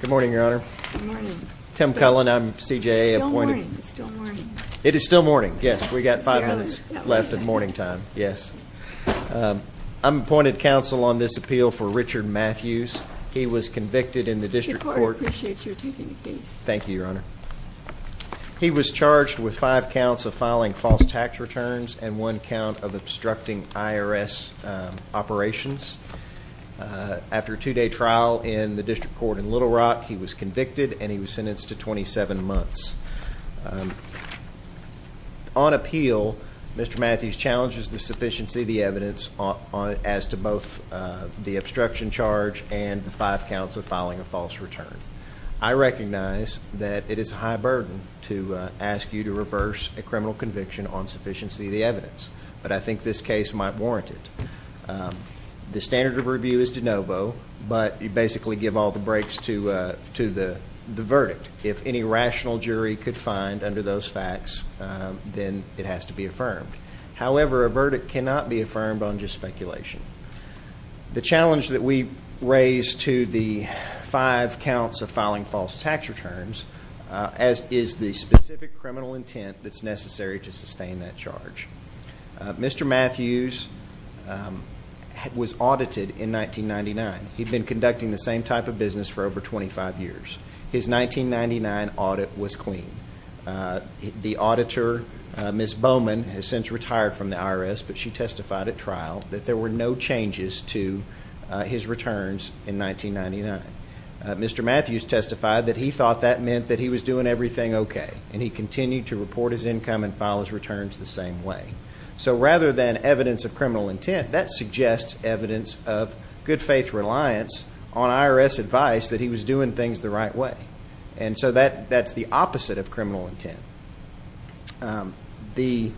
Good morning, Your Honor. Tim Cullen. I'm CJA appointed. It is still morning. Yes, we got five minutes left at morning time. Yes, I'm appointed counsel on this appeal for Richard Mathews. He was convicted in the district court. Thank you, Your Honor. He was charged with five counts of filing false tax returns and one count of obstructing IRS operations. After a two-day trial in the district court in Little Rock, he was convicted and he was sentenced to 27 months. On appeal, Mr. Mathews challenges the sufficiency of the evidence on it as to both the obstruction charge and the five counts of filing a false return. I recognize that it is a high burden to ask you to reverse a criminal conviction on sufficiency of the evidence, but I think this case might warrant it. The standard of review is de novo, but you basically give all the brakes to the verdict. If any rational jury could find under those facts, then it has to be affirmed. However, a verdict cannot be affirmed on just speculation. The challenge that we raise to the five counts of filing false tax returns, as is the specific criminal intent that's necessary to sustain that charge. Mr. Mathews was audited in 1999. He'd been conducting the same type of business for over 25 years. His 1999 audit was clean. The auditor, Ms. Bowman, has since retired from the IRS, but she testified at trial that there were no changes to his returns in 1999. Mr. Mathews testified that he thought that meant that he was doing everything okay, and he continued to report his income and file his returns the same way. So rather than evidence of criminal intent, that suggests evidence of good faith reliance on IRS advice that he was doing things the right way. And so that's the opposite of criminal intent. He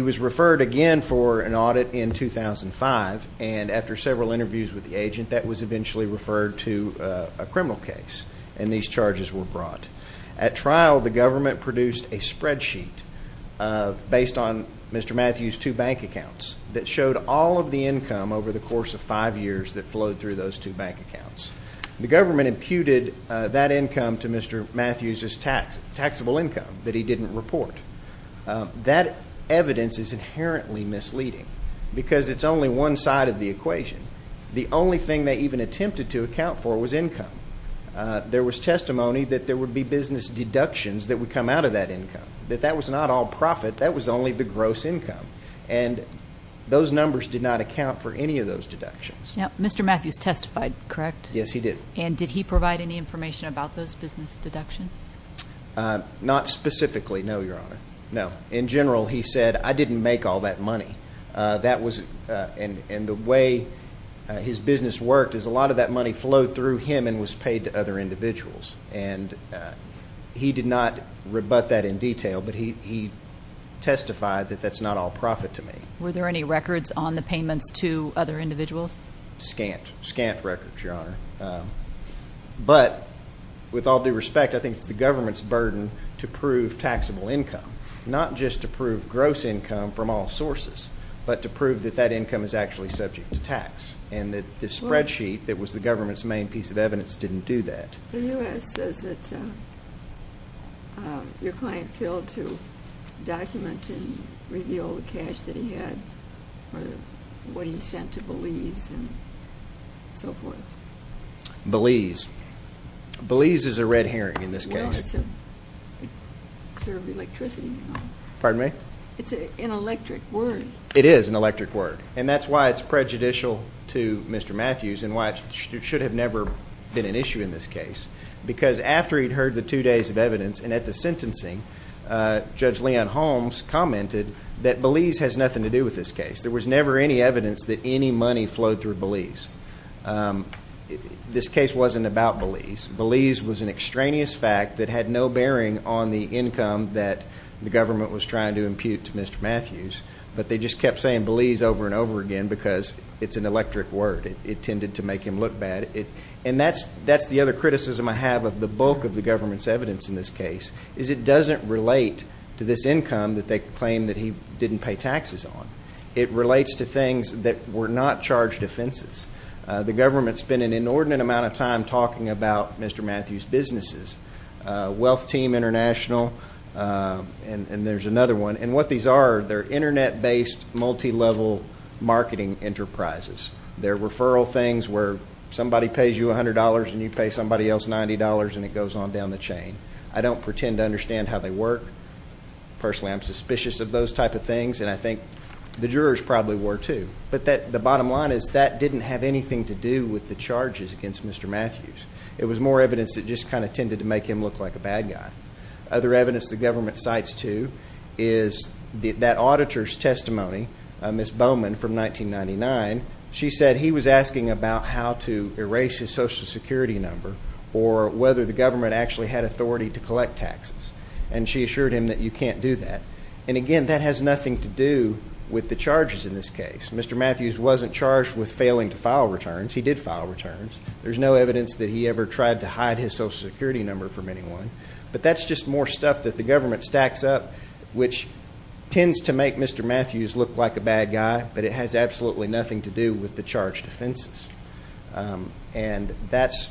was referred again for an audit in 2005, and after several interviews with the agent, that was eventually referred to a criminal case, and these charges were brought. At trial, the government produced a spreadsheet based on Mr. Mathews' two bank accounts that showed all of the income over the course of five years that flowed through those two bank accounts. The government imputed that income to Mr. Mathews' taxable income that he didn't report. That evidence is inherently misleading, because it's only one side of the equation. The other thing they even attempted to account for was income. There was testimony that there would be business deductions that would come out of that income, that that was not all profit, that was only the gross income, and those numbers did not account for any of those deductions. Mr. Mathews testified, correct? Yes, he did. And did he provide any information about those business deductions? Not specifically, no, Your Honor. No. In general, he said, I didn't make all that money. And the way his business worked is a lot of that money flowed through him and was paid to other individuals. And he did not rebut that in detail, but he testified that that's not all profit to me. Were there any records on the payments to other individuals? Scant. Scant records, Your Honor. But with all due respect, I think it's the all sources, but to prove that that income is actually subject to tax and that the spreadsheet that was the government's main piece of evidence didn't do that. The U.S. says that your client failed to document and reveal the cash that he had or what he sent to Belize and so forth. Belize. Belize is a red herring in this case. Sir, electricity. Pardon me? It's an electric word. It is an electric word, and that's why it's prejudicial to Mr. Matthews and why it should have never been an issue in this case, because after he'd heard the two days of evidence and at the sentencing, Judge Leon Holmes commented that Belize has nothing to do with this case. There was never any evidence that any money flowed through Belize. This case wasn't about Belize. Belize was an extraneous fact that had no bearing on the income that the government was trying to impute to Mr. Matthews, but they just kept saying Belize over and over again because it's an electric word. It tended to make him look bad. And that's the other criticism I have of the bulk of the government's evidence in this case is it doesn't relate to this income that they claim that he didn't pay taxes on. It relates to things that were not charged offenses. The government spent an inordinate amount of time talking about Mr. Matthews' businesses, Wealth Team International, and there's another one. And what these are, they're internet-based, multi-level marketing enterprises. They're referral things where somebody pays you $100 and you pay somebody else $90 and it goes on down the chain. I don't pretend to those type of things, and I think the jurors probably were too. But the bottom line is that didn't have anything to do with the charges against Mr. Matthews. It was more evidence that just kind of tended to make him look like a bad guy. Other evidence the government cites too is that auditor's testimony, Ms. Bowman from 1999, she said he was asking about how to erase his social security number or whether the government actually had authority to That has nothing to do with the charges in this case. Mr. Matthews wasn't charged with failing to file returns. He did file returns. There's no evidence that he ever tried to hide his social security number from anyone. But that's just more stuff that the government stacks up, which tends to make Mr. Matthews look like a bad guy, but it has absolutely nothing to do with the charged offenses. And that's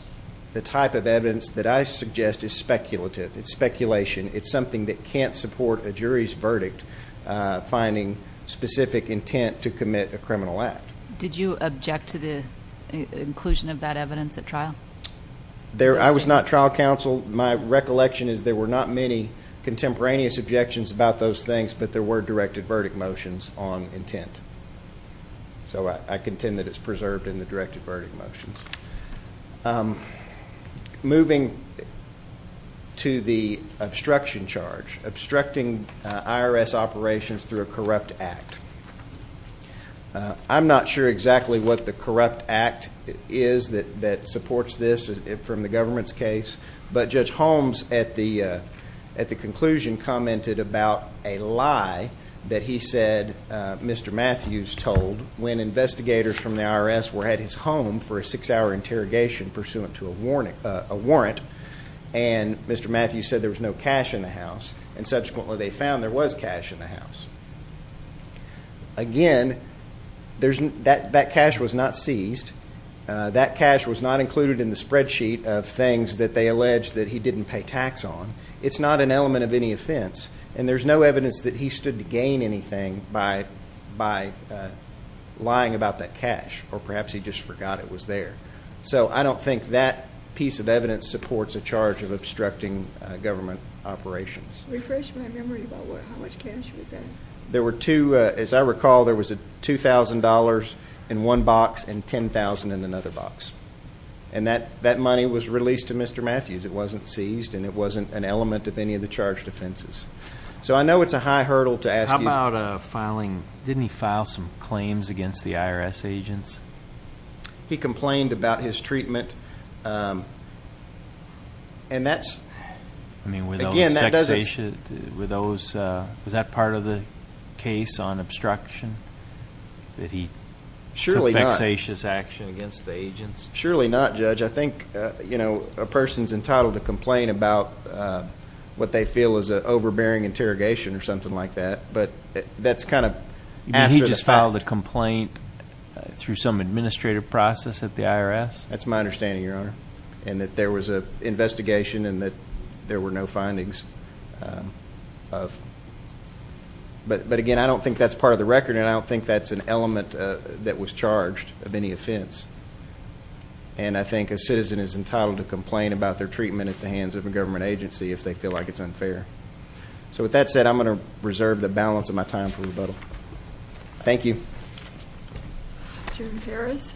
the type of evidence that I suggest is speculative. It's speculation. It's something that can't support a jury's verdict, finding specific intent to commit a criminal act. Did you object to the inclusion of that evidence at trial? I was not trial counsel. My recollection is there were not many contemporaneous objections about those things, but there were directed verdict motions on intent. So I contend that it's preserved in the the obstruction charge, obstructing I. R. S. Operations through a corrupt act. I'm not sure exactly what the corrupt act is that supports this from the government's case. But Judge Holmes at the at the conclusion commented about a lie that he said Mr Matthews told when investigators from the I. R. S. Were at his home for a six hour interrogation pursuant to a warning a warrant. And Mr Matthews said there was no cash in the house, and subsequently they found there was cash in the house. Again, there's that that cash was not seized. That cash was not included in the spreadsheet of things that they alleged that he didn't pay tax on. It's not an element of any offense, and there's no evidence that he stood to gain anything by by lying about that cash. Or perhaps he just forgot it was there. So I don't think that piece of evidence supports a charge of obstructing government operations. Refresh my memory about how much cash was in. There were two. As I recall, there was a $2000 in one box and 10,000 in another box. And that that money was released to Mr Matthews. It wasn't seized, and it wasn't an element of any of the charge defenses. So I know it's a high hurdle to ask about filing. Didn't he file some claims against the I mean, with those with those, uh, was that part of the case on obstruction that he surely vexatious action against the agents? Surely not, Judge. I think, you know, a person's entitled to complain about, uh, what they feel is overbearing interrogation or something like that. But that's kind of he just filed a complaint through some administrative process at the I. R. S. That's my understanding, Your Honor, and that there was a investigation and that there were no findings of. But But again, I don't think that's part of the record, and I don't think that's an element that was charged of any offense. And I think a citizen is entitled to complain about their treatment at the hands of a government agency if they feel like it's unfair. So with that said, I'm gonna reserve the balance of my time for rebuttal. Thank you. Jim Ferris.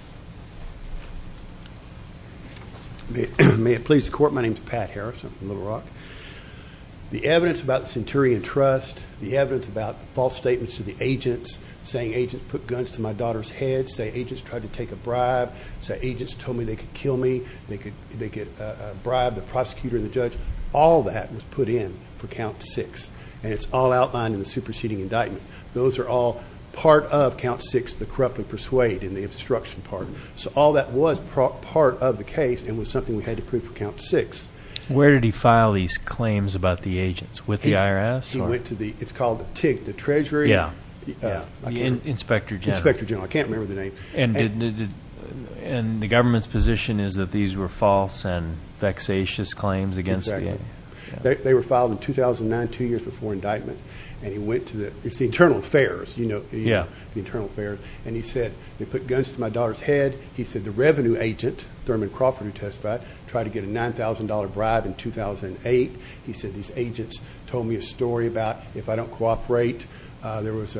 May it please the court. My name's Pat Harrison Little Rock. The evidence about Centurion Trust, the evidence about false statements to the agents, saying agents put guns to my daughter's head, say agents tried to take a bribe, say agents told me they could kill me. They could. They could bribe the prosecutor. The judge. All that was put in for count six, and it's all outlined in the superseding indictment. Those air all part of count six, the corrupt and persuade in the obstruction part. So all that was part of the case and was something we had to prove for count six. Where did he file these claims about the agents with the IRS? He went to the it's called the TIG, the Treasury. Yeah. Inspector General. Inspector General. I can't remember the name. And the government's position is that these were false and vexatious claims against the... Exactly. They were filed in 2009, two years before indictment. And he went to the... It's the internal affairs, the internal affairs. And he said they put guns to my daughter's head. He said the revenue agent, Thurman Crawford, who testified, tried to get a $9,000 bribe in 2008. He said these agents told me a story about if I don't cooperate. There was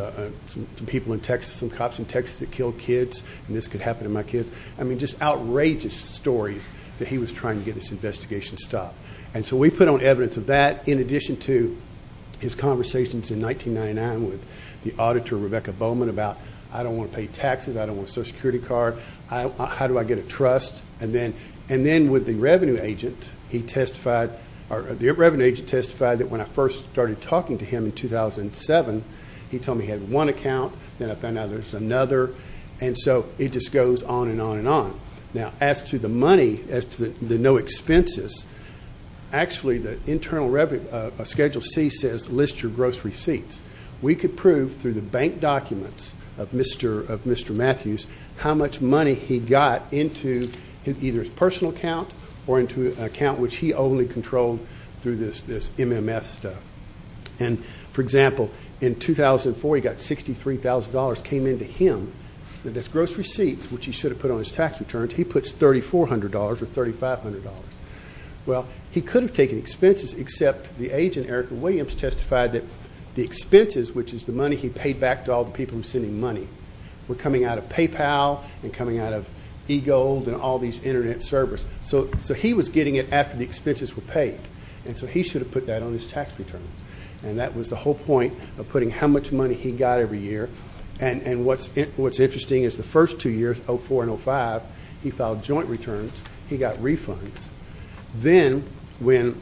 some people in Texas, some cops in Texas that killed kids, and this could happen to my kids. I mean, just outrageous stories that he was trying to get this investigation stopped. And so we put on evidence of that in addition to his conversations in 1999 with the auditor, Rebecca Bowman, about, I don't wanna pay taxes, I don't want a social security card, how do I get a trust? And then with the revenue agent, the revenue agent testified that when I first started talking to him in 2007, he told me he had one account, then I found out there's another. And so it just goes on and on and on. Now, as to the money, as to the no expenses, actually the internal revenue, Schedule C says, list your gross receipts. We could prove through the bank documents of Mr. Matthews, how much money he got into either his personal account or into an account which he only controlled through this MMS stuff. And for example, in 2004, he got $63,000 came into him, and his gross receipts, which he should have put on his tax returns, he puts $3,400 or $3,500. Well, he could have taken expenses, except the agent, Eric Williams, testified that the expenses, which is the money he paid back to all the people who were sending money, were coming out of PayPal and coming out of eGold and all these internet servers. So he was getting it after the expenses were paid, and so he should have put that on his tax returns. And that was the whole point of putting how much money he got every year. And what's interesting is the first two years, 2004 and 2005, he filed joint returns, he got refunds. Then, in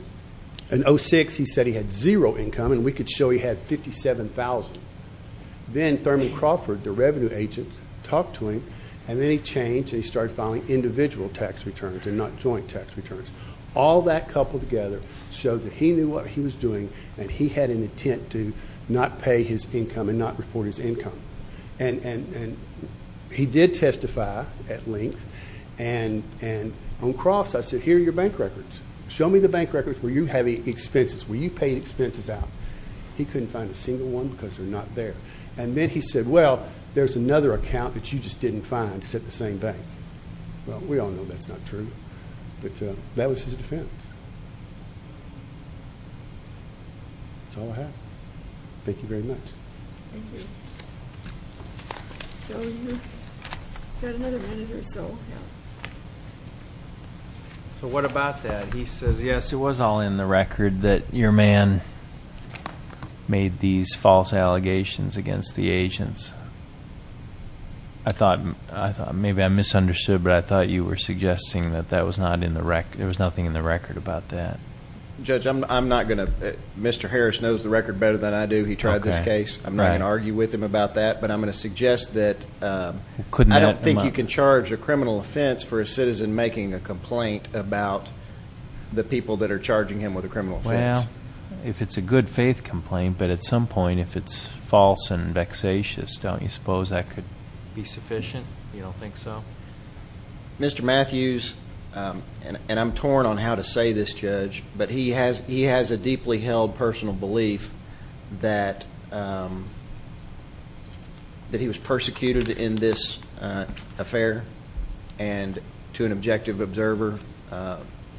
2006, he said he had zero income, and we could show he had $57,000. Then Thurman Crawford, the revenue agent, talked to him, and then he changed and he started filing individual tax returns and not joint tax returns. All that coupled together showed that he knew what he was doing, and he had an intent to not pay his income and not report his income. And he did testify at length, and on cross, I said, here are your bank records. Show me the bank records where you have expenses, where you paid expenses out. He couldn't find a single one because they're not there. And then he said, well, there's another account that you just didn't find, it's at the same bank. Well, we all know that's not true, but that was his defense. That's all I have. Thank you very much. Thank you. So you got another editor, so yeah. So what about that? He says, yes, it was all in the record that your man made these false allegations against the agents. I thought, maybe I misunderstood, but I thought you were suggesting that that was not in the record. There was nothing in the record about that. Judge, I'm not gonna... Mr. Harris knows the record better than I do. He tried this case. I'm not gonna argue with him about that, but I'm gonna suggest that... I don't think you can charge a criminal offense for a citizen making a complaint about the people that are charging him with a criminal offense. Well, if it's a good faith complaint, but at some point, if it's false and vexatious, don't you suppose that could be sufficient? You don't think so? Mr. Matthews, and I'm torn on how to say this, Judge, but he has a deeply held personal belief that he was persecuted in this affair, and to an objective observer,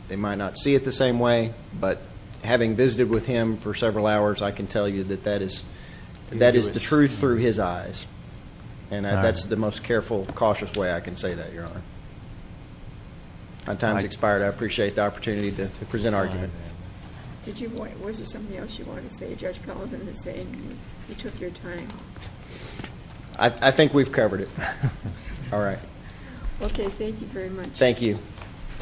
they might not see it the same way, but having visited with him for several hours, I can tell you that that is the truth through his eyes, and that's the most careful, cautious way I can say that, Your Honor. My time's expired. I appreciate the opportunity to present an argument. Was there something else you wanted to say, Judge Cullinan, in saying you took your time? I think we've covered it. Alright. Okay, thank you very much. Thank you.